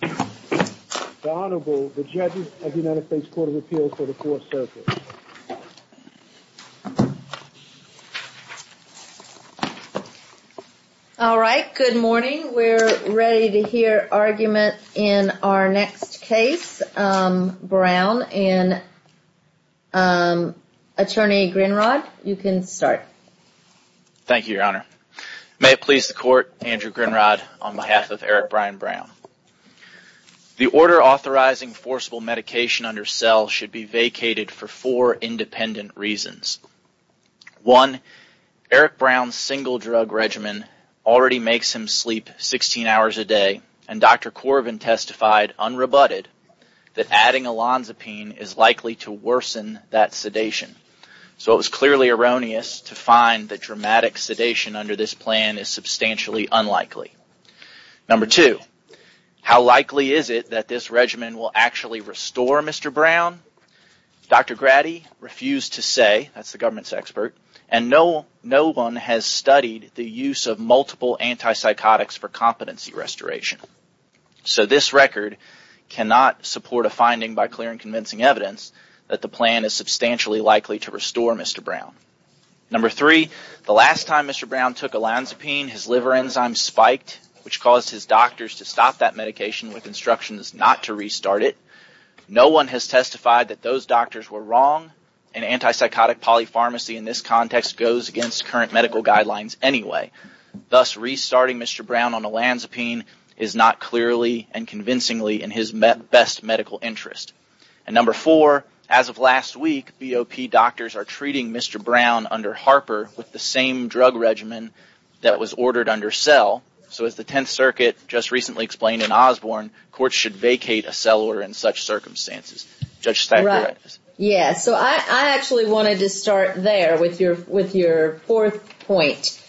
The Honorable, the Judges of the United States Court of Appeals for the Fourth Circuit. All right. Good morning. We're ready to hear argument in our next case. Brown and Attorney Grinrod, you can start. Thank you, Your Honor. May it please the Court, Andrew Grinrod, on behalf of Eric Brian Brown. The order authorizing forcible medication under cell should be vacated for four independent reasons. One, Eric Brown's single drug regimen already makes him sleep 16 hours a day, and Dr. Corvin testified unrebutted that adding Olanzapine is likely to worsen that sedation. So it was clearly erroneous to find that dramatic sedation under this plan is substantially unlikely. Number two, how likely is it that this regimen will actually restore Mr. Brown? Dr. Grady refused to say, that's the government's expert, and no one has studied the use of multiple antipsychotics for competency restoration. So this record cannot support a finding by clear and convincing evidence that the plan is substantially likely to restore Mr. Brown. Number three, the last time Mr. Brown took Olanzapine, his liver enzyme spiked, which caused his doctors to stop that medication with instructions not to restart it. No one has testified that those doctors were wrong, and antipsychotic polypharmacy in this context goes against current medical guidelines anyway. Thus, restarting Mr. Brown on Olanzapine is not clearly and convincingly in his best medical interest. And number four, as of last week, BOP doctors are treating Mr. Brown under Harper with the same drug regimen that was ordered under cell. So as the Tenth Circuit just recently explained in Osborne, courts should vacate a cell order Judge Staccaratos. Right. Yeah. So I actually wanted to start there with your fourth point.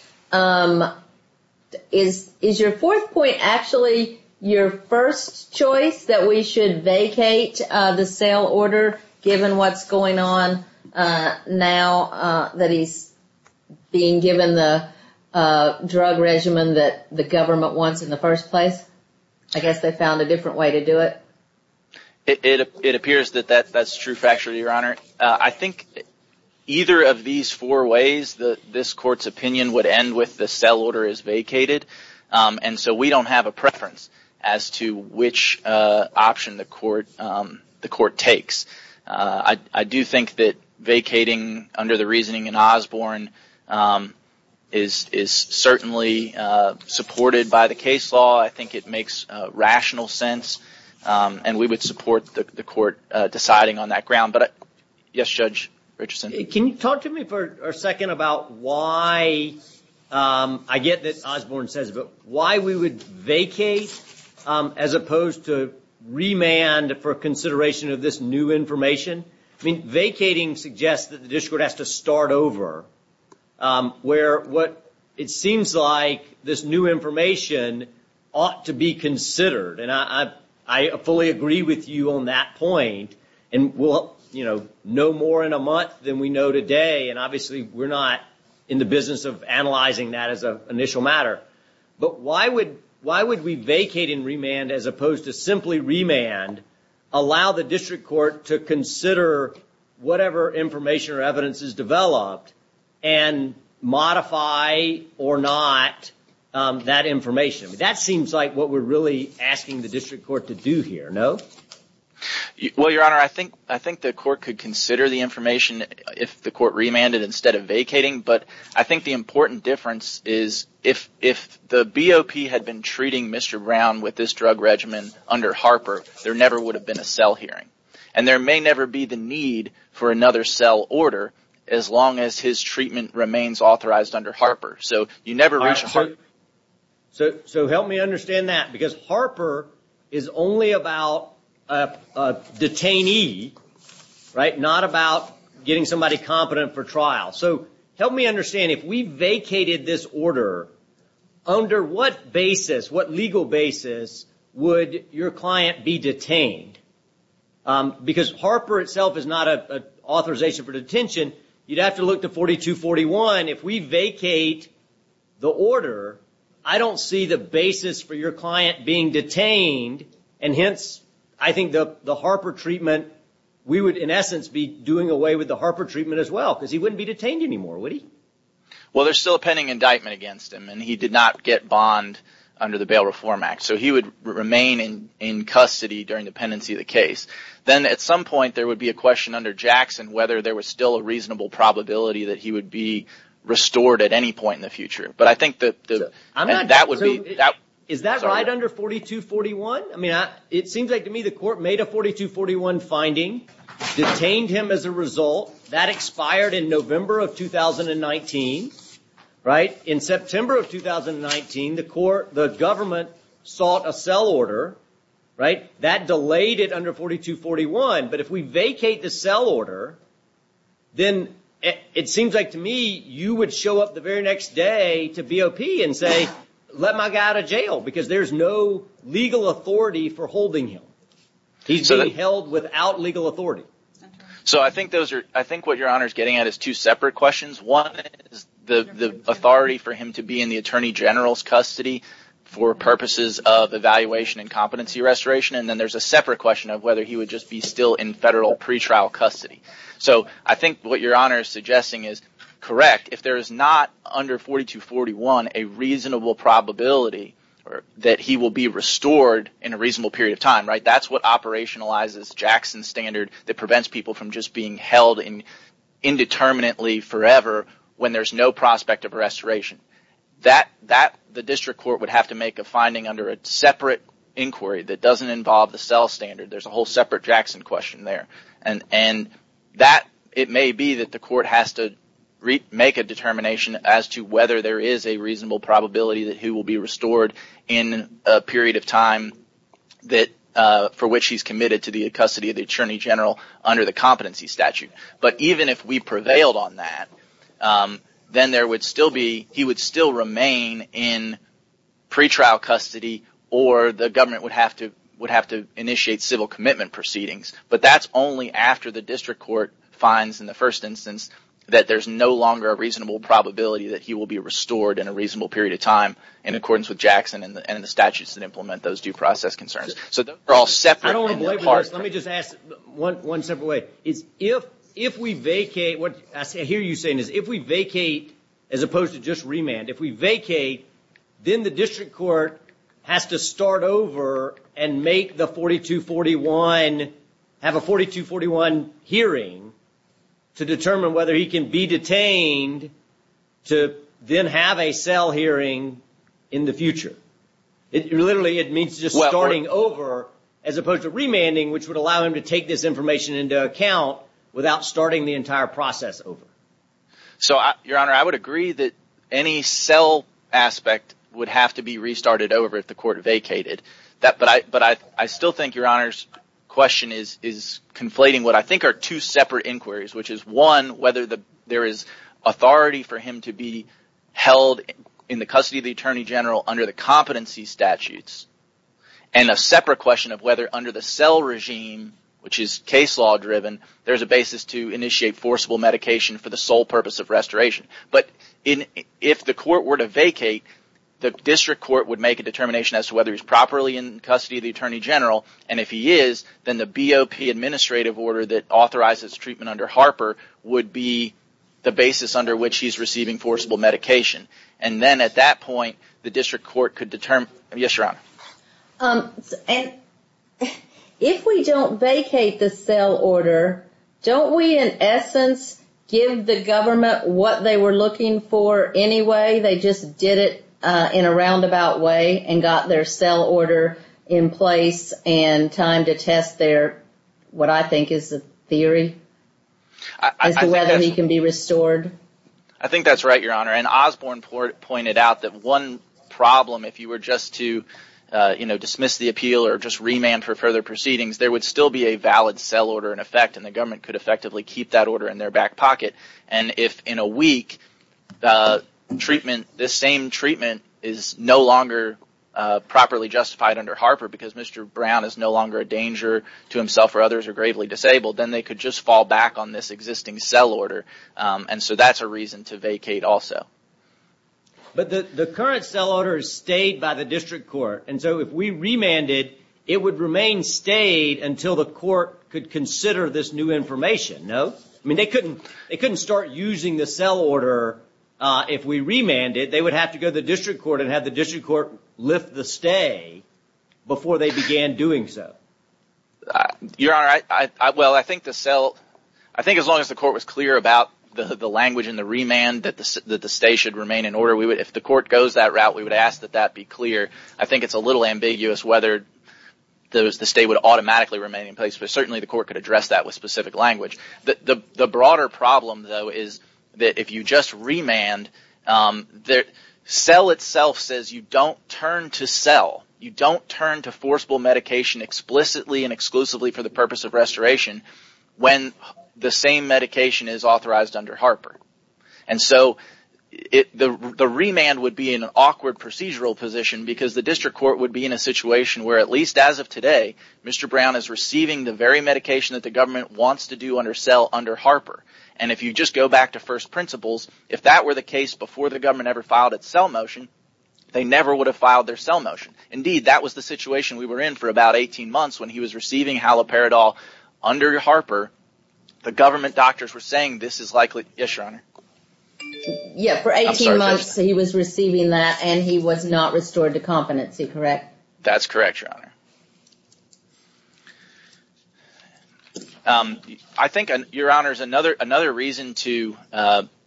Is your fourth point actually your first choice that we should vacate the cell order given what's going on now that he's being given the drug regimen that the government wants in the first place? I guess they found a different way to do it. I think either of these four ways this court's opinion would end with the cell order is vacated. And so we don't have a preference as to which option the court takes. I do think that vacating under the reasoning in Osborne is certainly supported by the case law. I think it makes rational sense. And we would support the court deciding on that ground. Yes, Judge Richardson. Can you talk to me for a second about why, I get that Osborne says, but why we would vacate as opposed to remand for consideration of this new information? Vacating suggests that the district has to start over where what it seems like this new information ought to be considered. And I fully agree with you on that point. And we'll know more in a month than we know today. And obviously, we're not in the business of analyzing that as an initial matter. But why would we vacate in remand as opposed to simply remand, allow the district court to consider whatever information or evidence is developed, and modify or not that information? That seems like what we're really asking the district court to do here, no? Well, Your Honor, I think the court could consider the information if the court remanded instead of vacating. But I think the important difference is if the BOP had been treating Mr. Brown with this drug regimen under Harper, there never would have been a cell hearing. And there may never be the need for another cell order as long as his treatment remains authorized under Harper. So you never reach a Harper. So help me understand that. Because Harper is only about a detainee, right? Not about getting somebody competent for trial. So help me understand, if we vacated this order, under what basis, what legal basis would your client be detained? Because Harper itself is not an authorization for detention. You'd have to look to 4241. If we vacate the order, I don't see the basis for your client being detained. And hence, I think the Harper treatment, we would in essence be doing away with the Harper treatment as well, because he wouldn't be detained anymore, would he? Well, there's still a pending indictment against him, and he did not get bond under the Bail Reform Act. So he would remain in custody during the pendency of the case. Then at some point, there would be a question under Jackson whether there was still a reasonable probability that he would be restored at any point in the future. But I think that would be... Is that right under 4241? It seems like to me the court made a 4241 finding, detained him as a result. That expired in November of 2019. In September of 2019, the government sought a cell order. That delayed it under 4241. But if we vacate the cell order, then it seems like to me you would show up the very next day to BOP and say, let my guy out of jail, because there's no legal authority for holding him. He's being held without legal authority. So I think what your Honor is getting at is two separate questions. One is the authority for him to be in the Attorney General's custody for purposes of evaluation and competency restoration. And then there's a separate question of whether he would just be still in federal pretrial custody. So I think what your Honor is suggesting is correct. If there is not under 4241 a reasonable probability that he will be restored in a reasonable period of time, that's what operationalizes Jackson's standard that prevents people from just being held indeterminately forever when there's no prospect of restoration. That the district court would have to make a finding under a separate inquiry that doesn't involve the cell standard. There's a whole separate Jackson question there. And that it may be that the court has to make a determination as to whether there is a reasonable probability that he will be restored in a period of time for which he's committed to the custody of the Attorney General under the competency statute. But even if we prevailed on that, then there would still be, he would still remain in pretrial custody or the government would have to initiate civil commitment proceedings. But that's only after the district court finds in the first instance that there's no longer a reasonable probability that he will be restored in a reasonable period of time in accordance with Jackson and the statutes that implement those due process concerns. So those are all separate. I don't want to belabor this. Let me just ask one separate way. If we vacate, what I hear you saying is if we vacate as opposed to just remand, if we vacate, then the district court has to start over and make the 4241, have a 4241 hearing to determine whether he can be detained to then have a cell hearing in the future. Literally, it means just starting over as opposed to remanding, which would allow him to take this information into account without starting the entire process over. So Your Honor, I would agree that any cell aspect would have to be restarted over if the court vacated. But I still think Your Honor's question is conflating what I think are two separate inquiries, which is one, whether there is authority for him to be held in the custody of the Attorney General under the competency statutes, and a separate question of whether under the cell regime, which is case law driven, there's a basis to initiate forcible medication for the sole purpose of restoration. But if the court were to vacate, the district court would make a determination as to whether he's properly in custody of the Attorney General. And if he is, then the BOP administrative order that authorizes treatment under Harper would be the basis under which he's receiving forcible medication. And then at that point, the district court could determine... Yes, Your Honor. And if we don't vacate the cell order, don't we in essence give the government what they were looking for anyway? They just did it in a roundabout way and got their cell order in place and time to test their, what I think is a theory, as to whether he can be restored? I think that's right, Your Honor. And Osborne pointed out that one problem, if you were just to dismiss the appeal or just remand for further proceedings, there would still be a valid cell order in effect and the government could effectively keep that order in their back pocket. And if in a week, this same treatment is no longer properly justified under Harper because Mr. Brown is no longer a danger to himself or others or gravely disabled, then they could just fall back on this existing cell order. And so that's a reason to vacate also. But the current cell order is stayed by the district court. And so if we remanded, it would remain stayed until the court could consider this new information, no? I mean, they couldn't start using the cell order if we remanded. They would have to go to the district court and have the district court lift the stay before they began doing so. Your Honor, well, I think as long as the court was clear about the language in the remand that the stay should remain in order, if the court goes that route, we would ask that that be clear. I think it's a little ambiguous whether the stay would automatically remain in place, but certainly the court could address that with specific language. The broader problem, though, is that if you just remand, the cell itself says you don't turn to cell, you don't turn to forcible medication explicitly and exclusively for the purpose of restoration when the same medication is authorized under Harper. And so the remand would be an awkward procedural position because the district court would be in a situation where at least as of today, Mr. Brown is receiving the very medication that the government wants to do under cell under Harper. And if you just go back to first principles, if that were the case before the government ever filed its cell motion, they never would have filed their cell motion. Indeed, that was the situation we were in for about 18 months when he was receiving Haloperidol under Harper. The government doctors were saying this is likely... Yes, Your Honor. Yeah, for 18 months he was receiving that and he was not restored to competency, correct? That's correct, Your Honor. I think, Your Honor, another reason to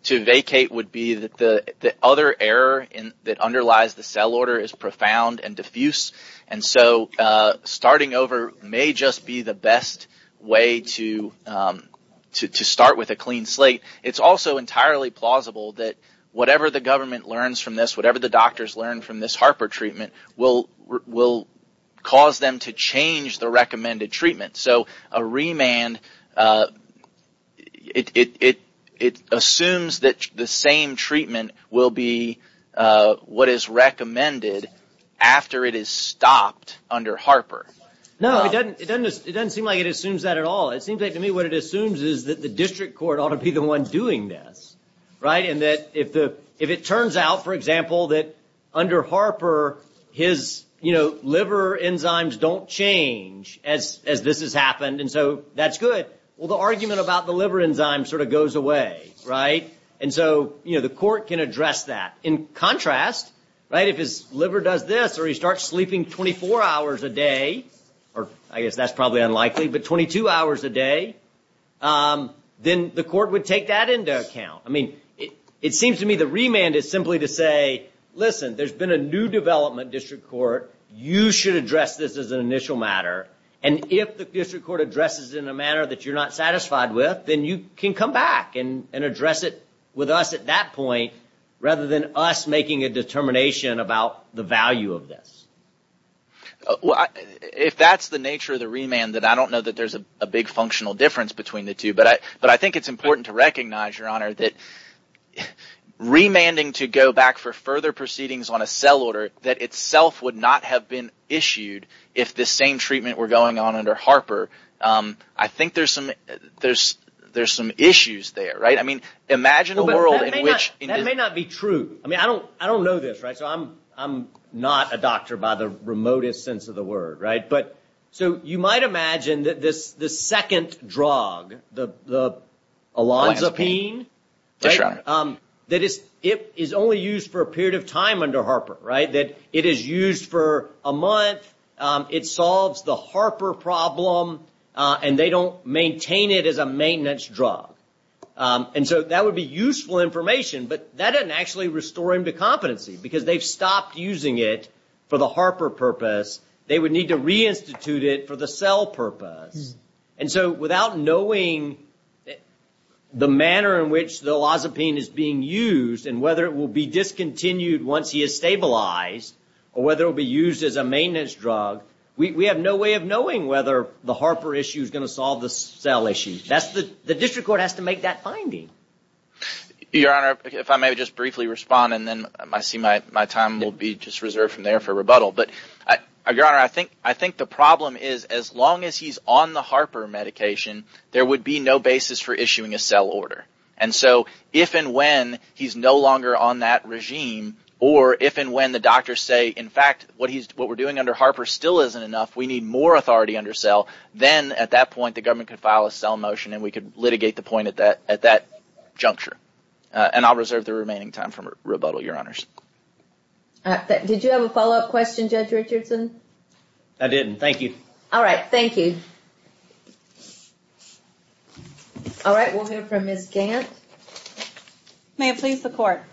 vacate would be that the other error that underlies the cell order is profound and diffuse. And so starting over may just be the best way to start with a clean slate. It's also entirely plausible that whatever the government learns from this, whatever the doctors learn from this Harper treatment will cause them to change the recommended treatment. So a remand, it assumes that the same treatment will be what is recommended after it is stopped under Harper. No, it doesn't seem like it assumes that at all. It seems like to me what it assumes is that the district court ought to be the one doing this. Right? And that if it turns out, for example, that under Harper his liver enzymes don't change as this has happened and so that's good, well, the argument about the liver enzyme sort of goes away. Right? And so the court can address that. In contrast, if his liver does this or he starts sleeping 24 hours a day, or I guess that's probably unlikely, but 22 hours a day, then the court would take that into account. I mean, it seems to me the remand is simply to say, listen, there's been a new development district court. You should address this as an initial matter. And if the district court addresses in a manner that you're not satisfied with, then you can come back and address it with us at that point rather than us making a determination about the value of this. If that's the nature of the remand, then I don't know that there's a big functional difference between the two. But I think it's important to recognize, Your Honor, that remanding to go back for further proceedings on a cell order that itself would not have been issued if the same treatment were going on under Harper. I think there's some issues there, right? I mean, imagine a world in which... That may not be true. I mean, I don't know this, right? So I'm not a doctor by the remotest sense of the word, right? So you might imagine that this second drug, the olanzapine, that is only used for a period of time under Harper, right? That it is used for a month. It solves the Harper problem, and they don't maintain it as a maintenance drug. And so that would be useful information, but that doesn't actually restore him to competency because they've stopped using it for the Harper purpose. They would need to reinstitute it for the cell purpose. And so without knowing the manner in which the olanzapine is being used, and whether it will be discontinued once he is stabilized, or whether it will be used as a maintenance drug, we have no way of knowing whether the Harper issue is going to solve the cell issue. The district court has to make that finding. Your Honor, if I may just briefly respond, and then I see my time will be just reserved from there for rebuttal. But, Your Honor, I think the problem is as long as he's on the Harper medication, there would be no basis for issuing a cell order. And so if and when he's no longer on that regime, or if and when the doctors say, in fact, what we're doing under Harper still isn't enough, we need more authority under cell, then at that point the government could file a cell motion and we could litigate the point at that juncture. And I'll reserve the remaining time for rebuttal, Your Honors. Did you have a follow-up question, Judge Richardson? I didn't. Thank you. All right. Thank you. All right. We'll hear from Ms. Gant. May it please the Court.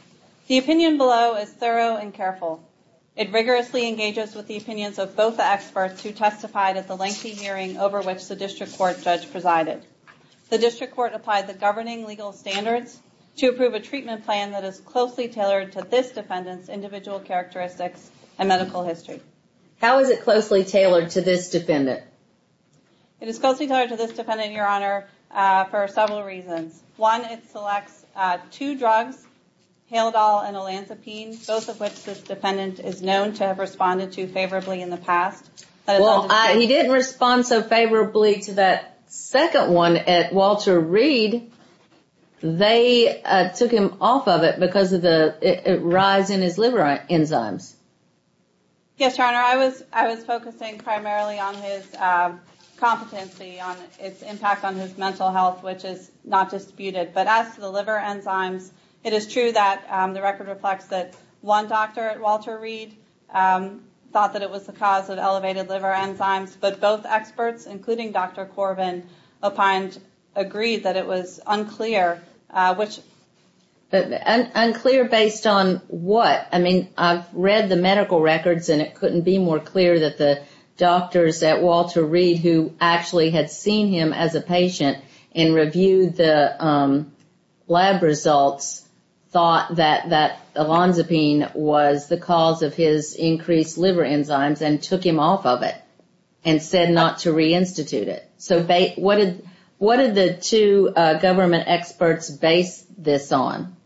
The opinion below is thorough and careful. It rigorously engages with the opinions of both the experts who testified at the lengthy hearing over which the district court judge presided. The district court applied the governing legal standards to approve a treatment plan that is closely tailored to this defendant's individual characteristics and medical history. How is it closely tailored to this defendant? It is closely tailored to this defendant, Your Honor, for several reasons. One, it selects two drugs, Halodol and Olanzapine, both of which this defendant is known to have responded to favorably in the past. Well, he didn't respond so favorably to that second one at Walter Reed. They took him off of it because of the rise in his liver enzymes. Yes, Your Honor. I was focusing primarily on his competency, on its impact on his mental health, which is not disputed. But as to the liver enzymes, it is true that the record reflects that one doctor at Walter Reed thought that it was the cause of elevated liver enzymes, but both experts, including Dr. Corbin, opined, agreed that it was unclear, which... Unclear based on what? I mean, I've read the medical records and it couldn't be more clear that the doctors at Walter Reed who actually had seen him as a patient and reviewed the lab results thought that Olanzapine was the cause of his increased liver enzymes and took him off of it and said not to reinstitute it. So what did the two government experts base this on?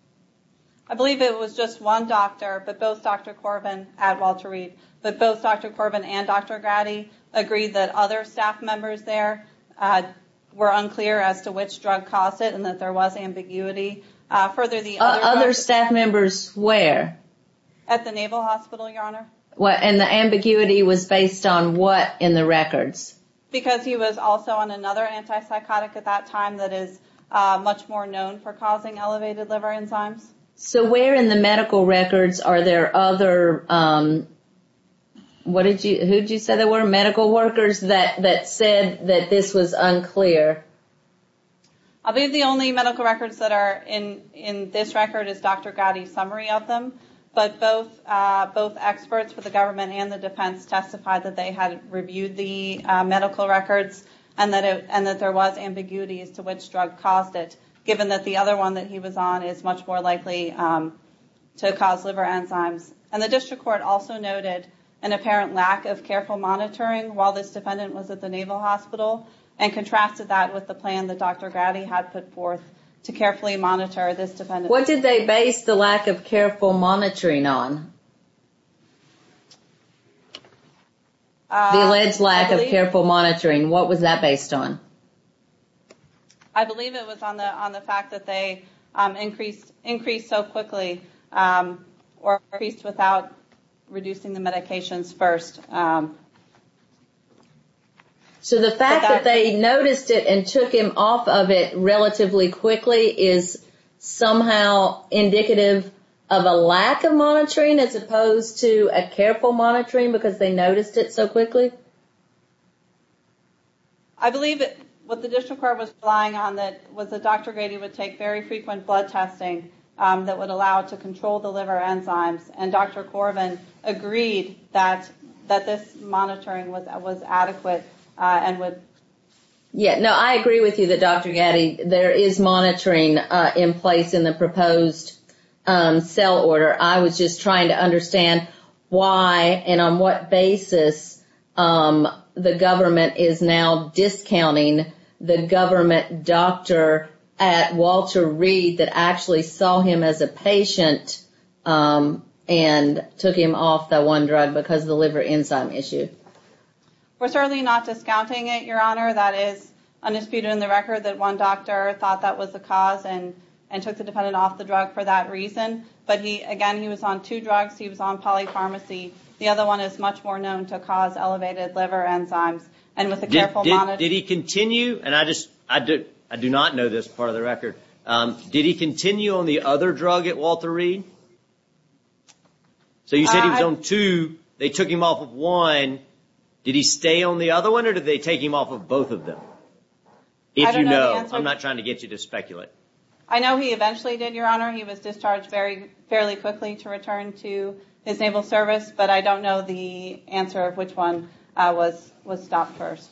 I believe it was just one doctor, but both Dr. Corbin at Walter Reed, but both Dr. Corbin and Dr. Grady agreed that other staff members there were unclear as to which drug caused it and that there was ambiguity. Other staff members where? At the Naval Hospital, Your Honor. And the ambiguity was based on what in the records? Because he was also on another antipsychotic at that time that is much more known for causing elevated liver enzymes. So where in the medical records are there other... What did you... Who did you say there were? Medical workers that said that this was unclear? I believe the only medical records that are in this record is Dr. Grady's summary of them, but both experts for the government and the defense testified that they had reviewed the medical records and that there was ambiguity as to which drug caused it, given that the other one that he was on is much more likely to cause liver enzymes. And the district court also noted an apparent lack of careful monitoring while this defendant was at the Naval Hospital and contrasted that with the plan that Dr. Grady had put forth to carefully monitor this defendant. What did they base the lack of careful monitoring on? The alleged lack of careful monitoring, what was that based on? I believe it was on the fact that they increased so quickly or increased without reducing the medications first. So the fact that they noticed it and took him off of it relatively quickly is somehow indicative of a lack of monitoring as opposed to a careful monitoring because they noticed it so quickly? I believe what the district court was relying on was that Dr. Grady would take very frequent blood testing that would allow to control the liver enzymes and Dr. Corvin agreed that this monitoring was adequate and would... Yeah, no, I agree with you that Dr. Grady, there is monitoring in place in the proposed cell order. I was just trying to understand why and on what basis the government is now discounting the government doctor at Walter Reed that actually saw him as a patient and took him off that one drug because of the liver enzyme issue? We're certainly not discounting it, Your Honor. That is undisputed in the record that one doctor thought that was the cause and took the defendant off the drug for that reason. But again, he was on two drugs. He was on polypharmacy. The other one is much more known to cause elevated liver enzymes and with a careful monitoring... Did he continue, and I do not know this part of the record, did he continue on the other drug at Walter Reed? So you said he was on two, they took him off of one, did he stay on the other one or did they take him off of both of them? If you know, I'm not trying to get you to speculate. I know he eventually did, Your Honor. He was discharged fairly quickly to return to his naval service, but I don't know the answer of which one was stopped first.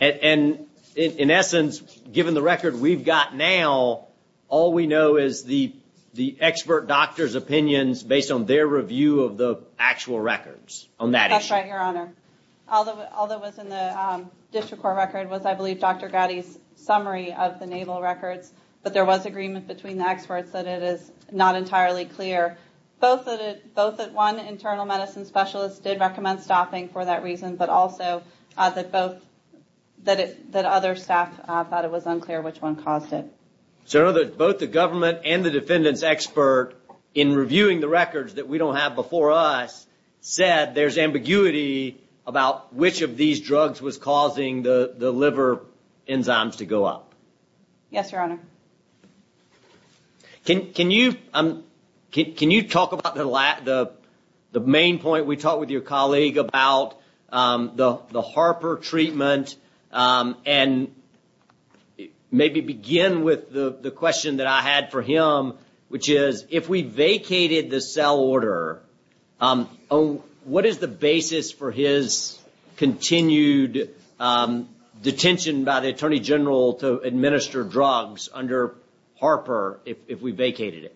And in essence, given the record we've got now, all we know is the expert doctor's opinions based on their review of the actual records on that issue. That's right, Your Honor. All that was in the district court record was, I believe, Dr. Gatti's summary of the naval records, but there was agreement between the experts that it is not entirely clear. Both that one internal medicine specialist did recommend stopping for that reason, but also that other staff thought it was unclear which one caused it. So in other words, both the government and the defendant's expert, in reviewing the records that we don't have before us, said there's ambiguity about which of these drugs was causing the liver enzymes to go up. Yes, Your Honor. Can you talk about the main point we talked with your colleague about the Harper treatment and maybe begin with the question that I had for him, which is, if we vacated the cell order, what is the basis for his continued detention by the Attorney General to administer drugs under Harper if we vacated it?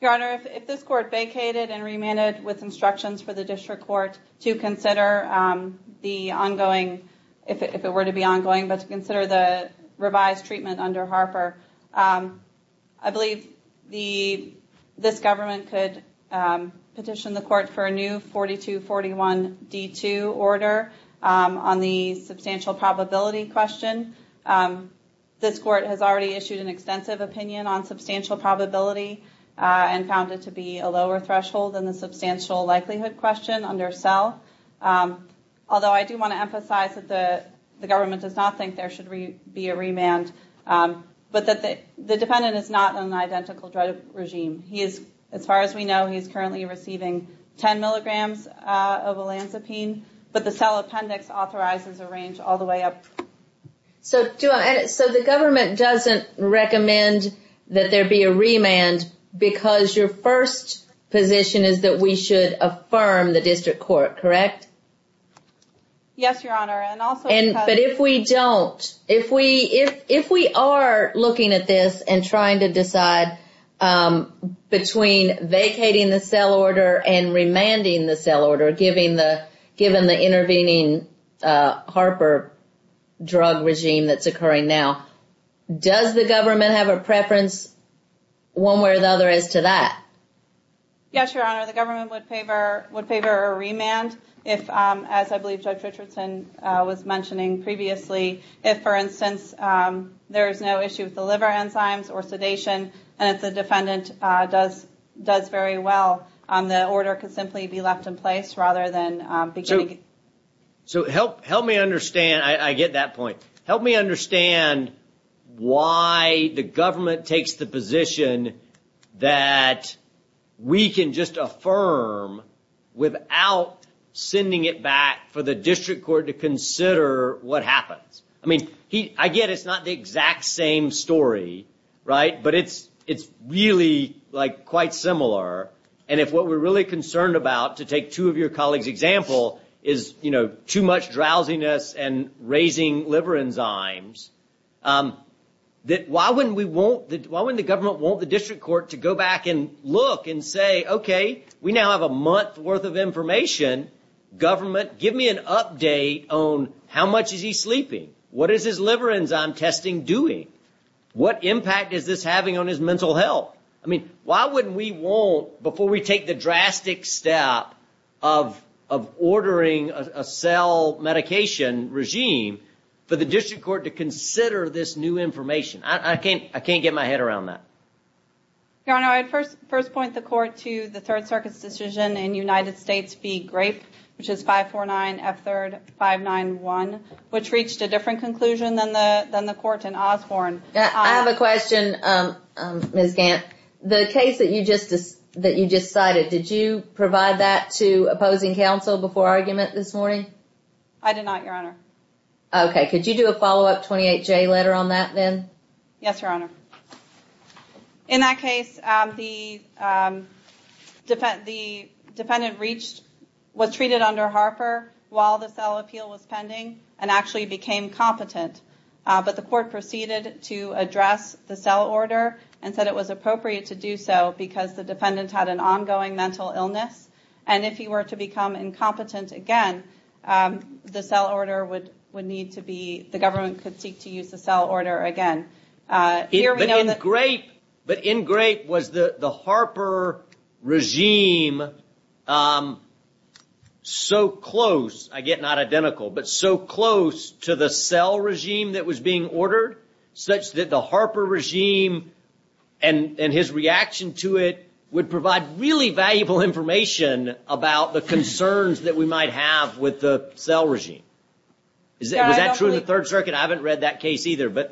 Your Honor, if this court vacated and remanded with instructions for the district court to consider the ongoing, if it were to be ongoing, but to consider the revised treatment under Harper, I believe this government could petition the court for a new 4241D2 order on the substantial probability question. This court has already issued an extensive opinion on substantial probability and found it to be a lower threshold than the substantial likelihood question under cell. Although I do want to emphasize that the government does not think there should be a remand, but that the defendant is not in an identical drug regime. As far as we know, he is currently receiving 10 milligrams of olanzapine, but the cell appendix authorizes a range all the way up. So the government doesn't recommend that there be a remand because your first position is that we should affirm the district court, correct? Yes, Your Honor, and also because... But if we don't, if we are looking at this and trying to decide between vacating the cell order, given the intervening Harper drug regime that's occurring now, does the government have a preference one way or the other as to that? Yes, Your Honor, the government would favor a remand if, as I believe Judge Richardson was mentioning previously, if, for instance, there is no issue with the liver enzymes or So help me understand, I get that point, help me understand why the government takes the position that we can just affirm without sending it back for the district court to consider what happens. I mean, I get it's not the exact same story, right, but it's really like quite similar. And if what we're really concerned about, to take two of your colleagues' example, is too much drowsiness and raising liver enzymes, why wouldn't the government want the district court to go back and look and say, okay, we now have a month worth of information, government, give me an update on how much is he sleeping? What is his liver enzyme testing doing? What impact is this having on his mental health? I mean, why wouldn't we want, before we take the drastic step of ordering a cell medication regime, for the district court to consider this new information? I can't get my head around that. Your Honor, I'd first point the court to the Third Circuit's decision in United States v. Grape, which is 549F3R591, which reached a different conclusion than the court in Osborn. I have a question, Ms. Gant. The case that you just cited, did you provide that to opposing counsel before argument this morning? I did not, Your Honor. Okay. Could you do a follow-up 28J letter on that then? Yes, Your Honor. In that case, the defendant reached, was treated under Harper while the cell appeal was pending and actually became competent. But the court proceeded to address the cell order and said it was appropriate to do so because the defendant had an ongoing mental illness. And if he were to become incompetent again, the government could seek to use the cell order again. But in Grape, was the Harper regime so close, I get not identical, but so close to the cell regime that was being ordered such that the Harper regime and his reaction to it would provide really valuable information about the concerns that we might have with the cell regime? Was that true in the Third Circuit? I haven't read that case either.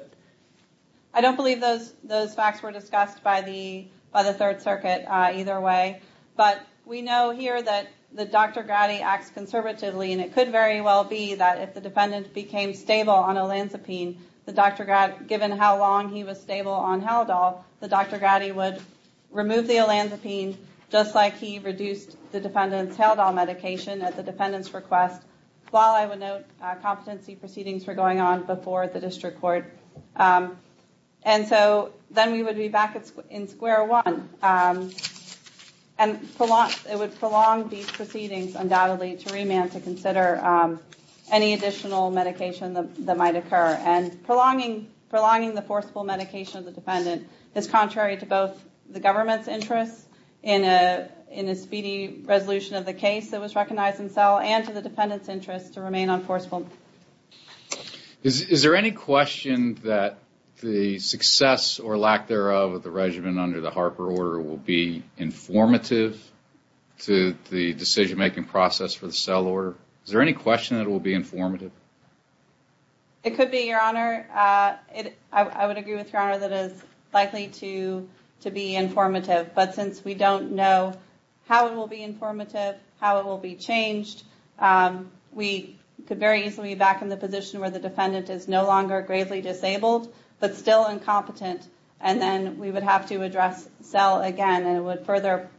I don't believe those facts were discussed by the Third Circuit either way. But we know here that the Dr. Grady acts conservatively and it could very well be that if the defendant became stable on Olanzapine, given how long he was stable on Haldol, the Dr. Grady would remove the Olanzapine just like he reduced the defendant's Haldol medication at the defendant's request. While I would note competency proceedings were going on before the district court. And so then we would be back in square one. And it would prolong these proceedings undoubtedly to remand to consider any additional medication that might occur. And prolonging the forcible medication of the defendant is contrary to both the government's in a speedy resolution of the case that was recognized in cell and to the defendant's interest to remain on forcible medication. Is there any question that the success or lack thereof of the regimen under the Harper order will be informative to the decision making process for the cell order? Is there any question that it will be informative? It could be, Your Honor. I would agree with Your Honor that it is likely to be informative. But since we don't know how it will be informative, how it will be changed, we could very easily be back in the position where the defendant is no longer gravely disabled but still incompetent. And then we would have to address cell again and it would further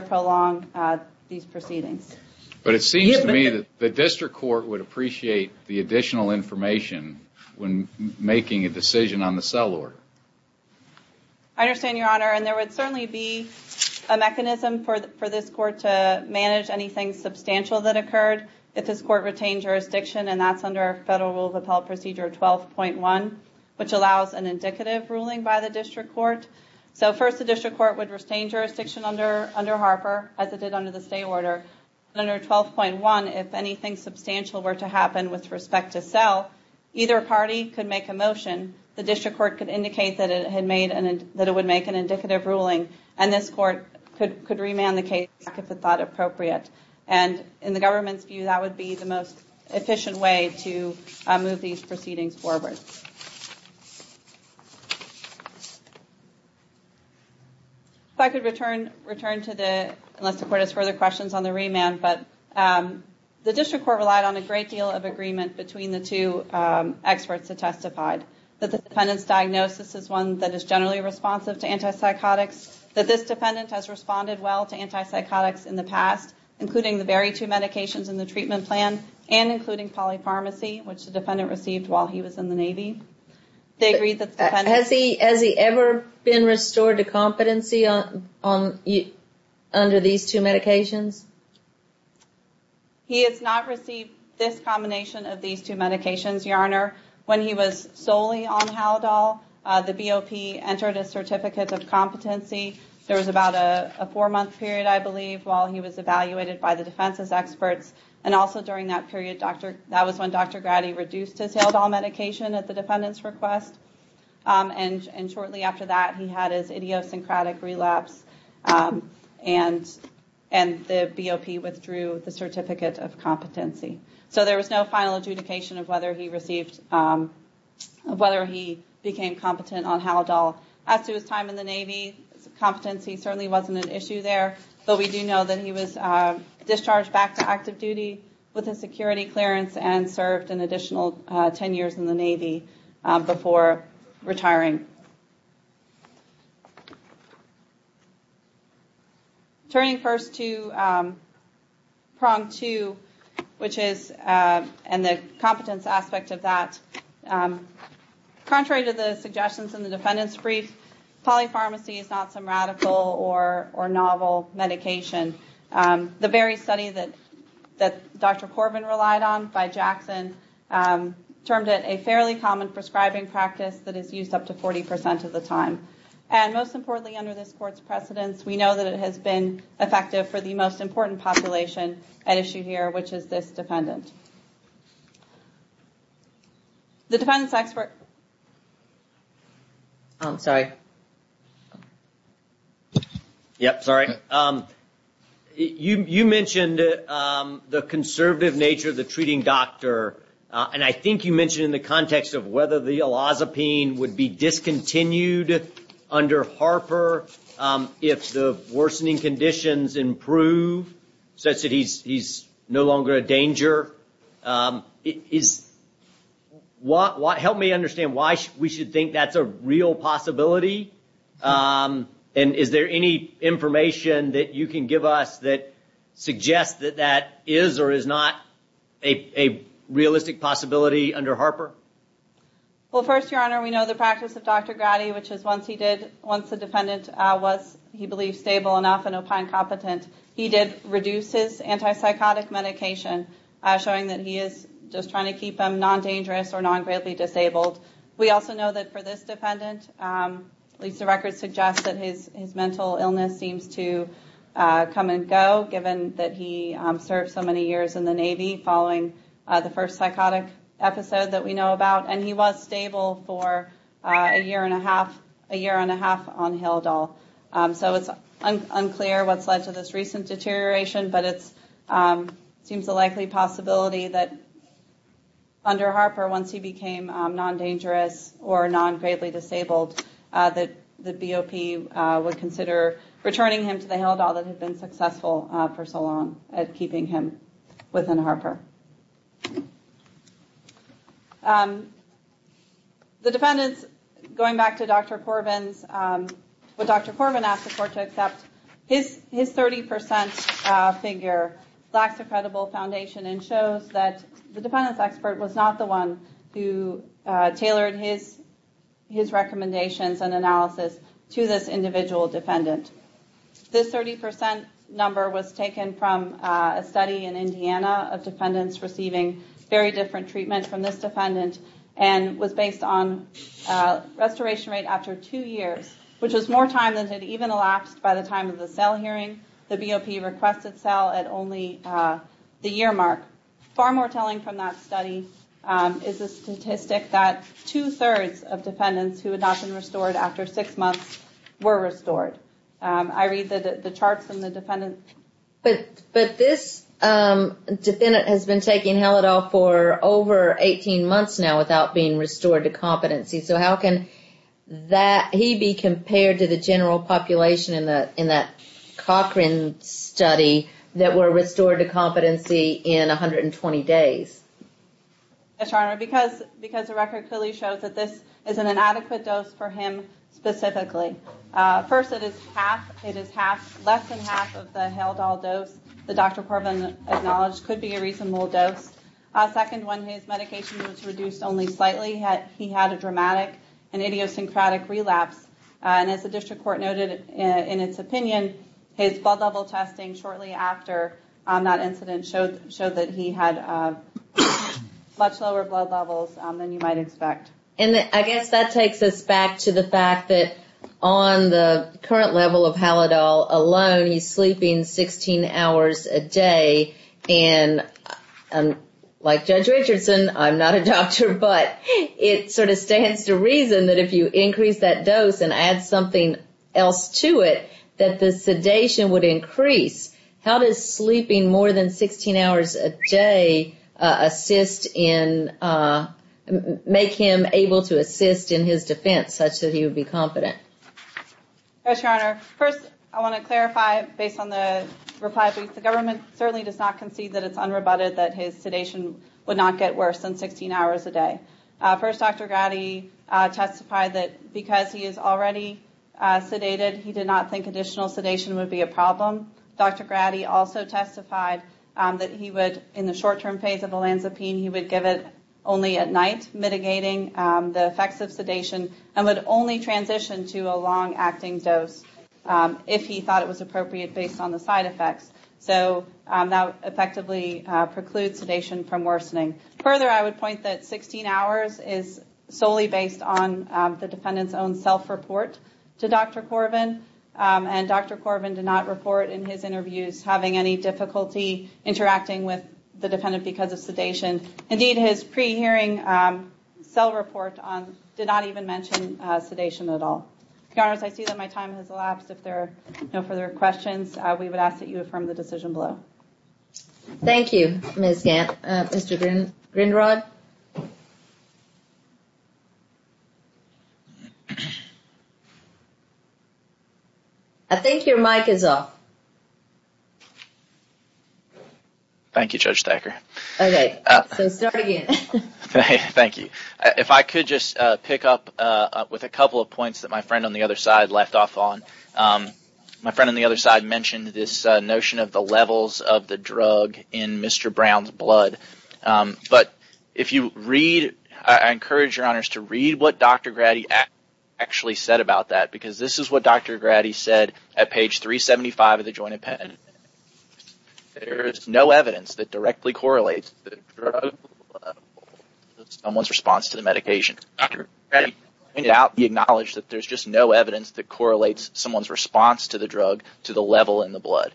prolong these proceedings. But it seems to me that the district court would appreciate the additional information when making a decision on the cell order. I understand, Your Honor. And there would certainly be a mechanism for this court to manage anything substantial that occurred if this court retained jurisdiction. And that's under Federal Rule of Appellate Procedure 12.1, which allows an indicative ruling by the district court. So first, the district court would retain jurisdiction under Harper, as it did under the stay order. And under 12.1, if anything substantial were to happen with respect to cell, either party could make a motion. The district court could indicate that it would make an indicative ruling. And this court could remand the case back if it thought appropriate. And in the government's view, that would be the most efficient way to move these proceedings forward. If I could return to the, unless the court has further questions on the remand, but the defendant's diagnosis is one that is generally responsive to antipsychotics, that this defendant has responded well to antipsychotics in the past, including the very two medications in the treatment plan, and including polypharmacy, which the defendant received while he was in the Navy. They agreed that the defendant... Has he ever been restored to competency under these two medications? When he was solely on Haldol, the BOP entered a certificate of competency. There was about a four-month period, I believe, while he was evaluated by the defense's experts. And also during that period, that was when Dr. Grady reduced his Haldol medication at the defendant's request. And shortly after that, he had his idiosyncratic relapse, and the BOP withdrew the certificate of competency. So there was no final adjudication of whether he received, of whether he became competent on Haldol. As to his time in the Navy, competency certainly wasn't an issue there, but we do know that he was discharged back to active duty with a security clearance, and served an additional 10 years in the Navy before retiring. Turning first to PRONG-2, which is, and the competence aspect of that, contrary to the suggestions in the defendant's brief, polypharmacy is not some radical or novel medication. The very study that Dr. Corbin relied on by Jackson, termed it a fairly common prescribing And most importantly, under this court's precedence, we know that it has been effective for the most important population at issue here, which is this defendant. The defendant's expert... I'm sorry. Yep, sorry. You mentioned the conservative nature of the treating doctor, and I think you mentioned in the context of whether the elazapine would be discontinued under Harper if the worsening conditions improve, such that he's no longer a danger. Help me understand why we should think that's a real possibility, and is there any information that you can give us that suggests that that is or is not a realistic possibility under Harper? Well, first, Your Honor, we know the practice of Dr. Grady, which is once the defendant was, he believes, stable enough and opine competent, he did reduce his antipsychotic medication, showing that he is just trying to keep him non-dangerous or non-greatly disabled. We also know that for this defendant, at least the records suggest that his mental illness seems to come and go, given that he served so many years in the Navy following the first psychotic episode that we know about, and he was stable for a year and a half on Hildahl. So it's unclear what's led to this recent deterioration, but it seems a likely possibility that under Dr. Grady, he is either non-dangerous or non-greatly disabled, that the BOP would consider returning him to the Hildahl that had been successful for so long at keeping him within Harper. The defendants, going back to Dr. Corbin's, what Dr. Corbin asked the court to accept, his 30% figure lacks a credible foundation and shows that the defendants expert was not the one who tailored his recommendations and analysis to this individual defendant. This 30% number was taken from a study in Indiana of defendants receiving very different treatment from this defendant, and was based on restoration rate after two years, which was more time than had even elapsed by the time of the cell hearing. The BOP requested cell at only the year mark. Far more telling from that study is the statistic that two-thirds of defendants who had not been restored after six months were restored. I read the charts from the defendants. But this defendant has been taking Hildahl for over 18 months now without being restored to competency, so how can he be compared to the general population in that Cochran study that were restored to competency in 120 days? Yes, Your Honor, because the record clearly shows that this is an inadequate dose for him specifically. First, it is less than half of the Hildahl dose that Dr. Corbin acknowledged could be a reasonable dose. Second, when his medication was reduced only slightly, he had a dramatic and idiosyncratic relapse. And as the district court noted in its opinion, his blood level testing shortly after that incident showed that he had much lower blood levels than you might expect. And I guess that takes us back to the fact that on the current level of Hildahl alone, he's sleeping 16 hours a day, and like Judge Richardson, I'm not a doctor, but it sort of stands to reason that if you increase that dose and add something else to it, that the sedation would increase. How does sleeping more than 16 hours a day assist in, make him able to assist in his defense such that he would be confident? Yes, Your Honor. First, I want to clarify based on the reply. The government certainly does not concede that it's unrebutted that his sedation would not get worse than 16 hours a day. First, Dr. Grady testified that because he is already sedated, he did not think additional sedation would be a problem. Dr. Grady also testified that he would, in the short-term phase of the lansipine, he would give it only at night, mitigating the effects of sedation, and would only transition to a long-acting dose if he thought it was appropriate based on the side effects. So that effectively precludes sedation from worsening. Further, I would point that 16 hours is solely based on the defendant's own self-report to Dr. Corvin, and Dr. Corvin did not report in his interviews having any difficulty interacting with the defendant because of sedation. Indeed, his pre-hearing cell report did not even mention sedation at all. Your Honor, I see that my time has elapsed. If there are no further questions, we would ask that you affirm the decision below. Thank you, Ms. Gantt. Mr. Grinrod? I think your mic is off. Thank you, Judge Thacker. Okay, so start again. Thank you. If I could just pick up with a couple of points that my friend on the other side left off on. My friend on the other side mentioned this notion of the levels of the drug in Mr. Brown's blood, but if you read, I encourage your Honors to read what Dr. Grady actually said about that, because this is what Dr. Grady said at page 375 of the Joint Appendix. There is no evidence that directly correlates the drug to someone's response to the medication. Dr. Grady pointed out the acknowledge that there's just no evidence that correlates someone's response to the drug to the level in the blood.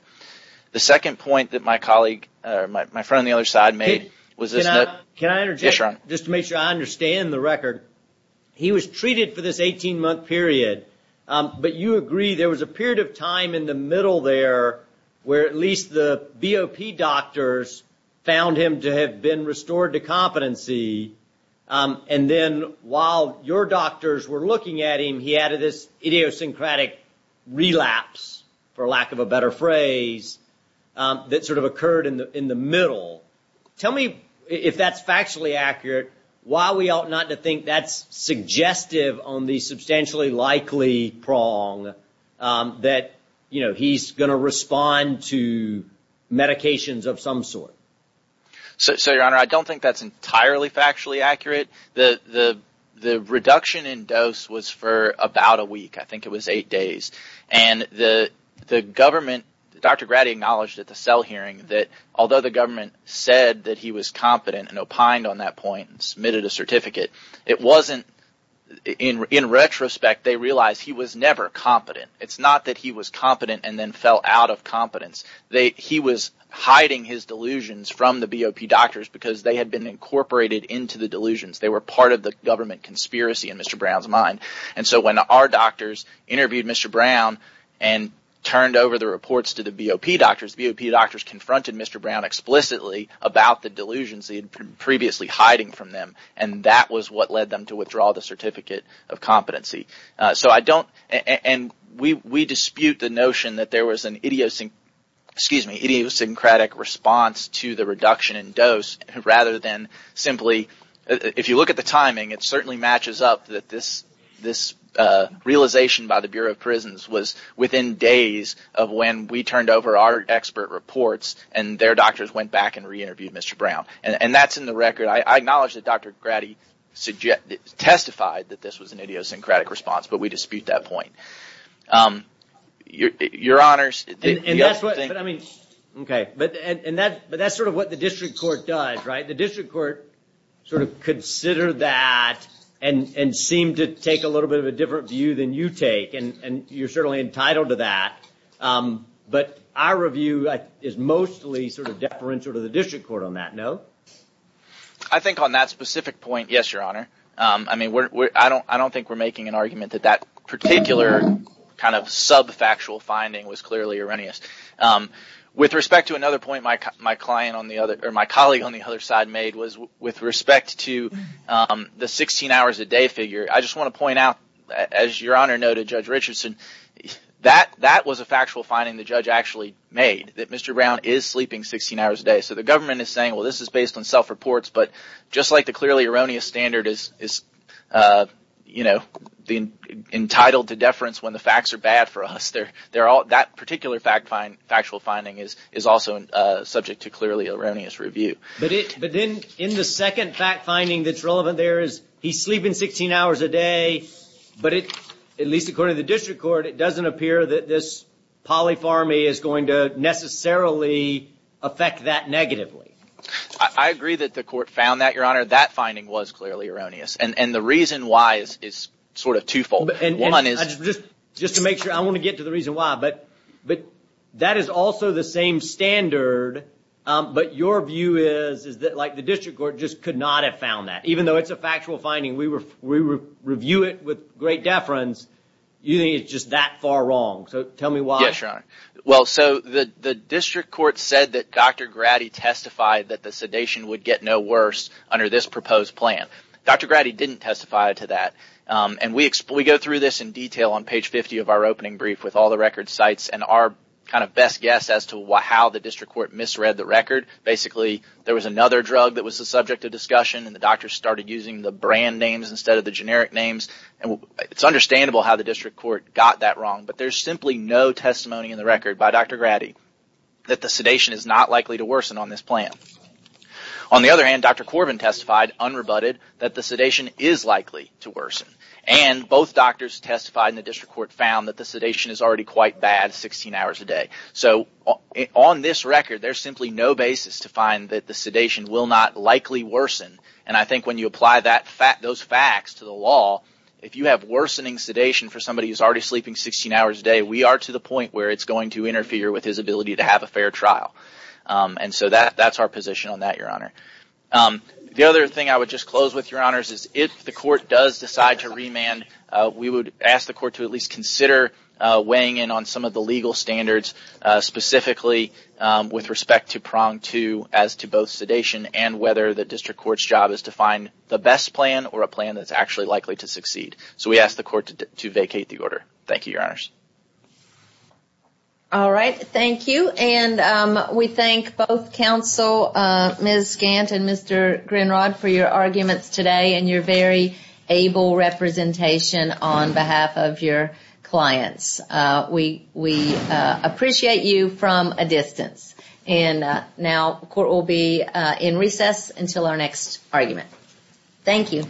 The second point that my colleague, or my friend on the other side made was this notion of I understand the record. He was treated for this 18-month period, but you agree there was a period of time in the middle there where at least the BOP doctors found him to have been restored to competency, and then while your doctors were looking at him, he had this idiosyncratic relapse, for lack of a better phrase, that sort of occurred in the middle. Tell me, if that's factually accurate, why we ought not to think that's suggestive on the substantially likely prong that he's going to respond to medications of some sort. Your Honor, I don't think that's entirely factually accurate. The reduction in dose was for about a week. I think it was eight days. Dr. Grady acknowledged at the cell hearing that although the government said that he was competent and opined on that point and submitted a certificate, in retrospect, they realized he was never competent. It's not that he was competent and then fell out of competence. He was hiding his delusions from the BOP doctors because they had been incorporated into the delusions. They were part of the government conspiracy in Mr. Brown's mind. When our doctors interviewed Mr. Brown and turned over the reports to the BOP doctors, the BOP doctors confronted Mr. Brown explicitly about the delusions he had been previously hiding from them. That was what led them to withdraw the certificate of competency. We dispute the notion that there was an idiosyncratic response to the reduction in dose rather than simply... This realization by the Bureau of Prisons was within days of when we turned over our expert reports, and their doctors went back and re-interviewed Mr. Brown. That's in the record. I acknowledge that Dr. Grady testified that this was an idiosyncratic response, but we dispute that point. Your Honors... But that's sort of what the district court does, right? The district court sort of considered that and seemed to take a little bit of a different view than you take, and you're certainly entitled to that. But our review is mostly sort of deferential to the district court on that, no? I think on that specific point, yes, Your Honor. I don't think we're making an argument that that particular kind of sub-factual finding was clearly erroneous. With respect to another point my colleague on the other side made was with respect to the 16 hours a day figure, I just want to point out, as Your Honor noted, Judge Richardson, that that was a factual finding the judge actually made, that Mr. Brown is sleeping 16 hours a day. So the government is saying, well, this is based on self-reports, but just like the clearly erroneous standard is entitled to deference when the facts are bad for us, that particular factual finding is also subject to clearly erroneous review. But then in the second fact-finding that's relevant there is he's sleeping 16 hours a day, but at least according to the district court, it doesn't appear that this polypharmy is going to necessarily affect that negatively. I agree that the court found that, Your Honor. That finding was clearly erroneous, and the reason why is sort of twofold. Just to make sure, I want to get to the reason why, but that is also the same standard, but your view is that the district court just could not have found that. Even though it's a factual finding, we review it with great deference, you think it's just that far wrong. So tell me why. Yes, Your Honor. Well, so the district court said that Dr. Grady testified that the sedation would get no worse under this proposed plan. Dr. Grady didn't testify to that, and we go through this in detail on page 50 of our opening brief with all the record sites and our kind of best guess as to how the district court misread the record. Basically, there was another drug that was the subject of discussion, and the doctors started using the brand names instead of the generic names. It's understandable how the district court got that wrong, but there's simply no testimony in the record by Dr. Grady that the sedation is not likely to worsen on this plan. On the other hand, Dr. Corbin testified unrebutted that the sedation is likely to worsen, and both doctors testified in the district court found that the sedation is already quite bad 16 hours a day. So on this record, there's simply no basis to find that the sedation will not likely worsen, and I think when you apply those facts to the law, if you have worsening sedation for somebody who's already sleeping 16 hours a day, we are to the point where it's going to interfere with his ability to have a fair trial, and so that's our position on that, Your Honor. The other thing I would just close with, Your Honors, is if the court does decide to remand, we would ask the court to at least consider weighing in on some of the legal standards, specifically with respect to prong two as to both sedation and whether the district court's job is to find the best plan or a plan that's actually likely to succeed. So we ask the court to vacate the order. Thank you, Your Honors. All right, thank you, and we thank both counsel Ms. Gant and Mr. Grinrod for your arguments today and your very able representation on behalf of your clients. We appreciate you from a distance, and now the court will be in recess until our next argument. Thank you.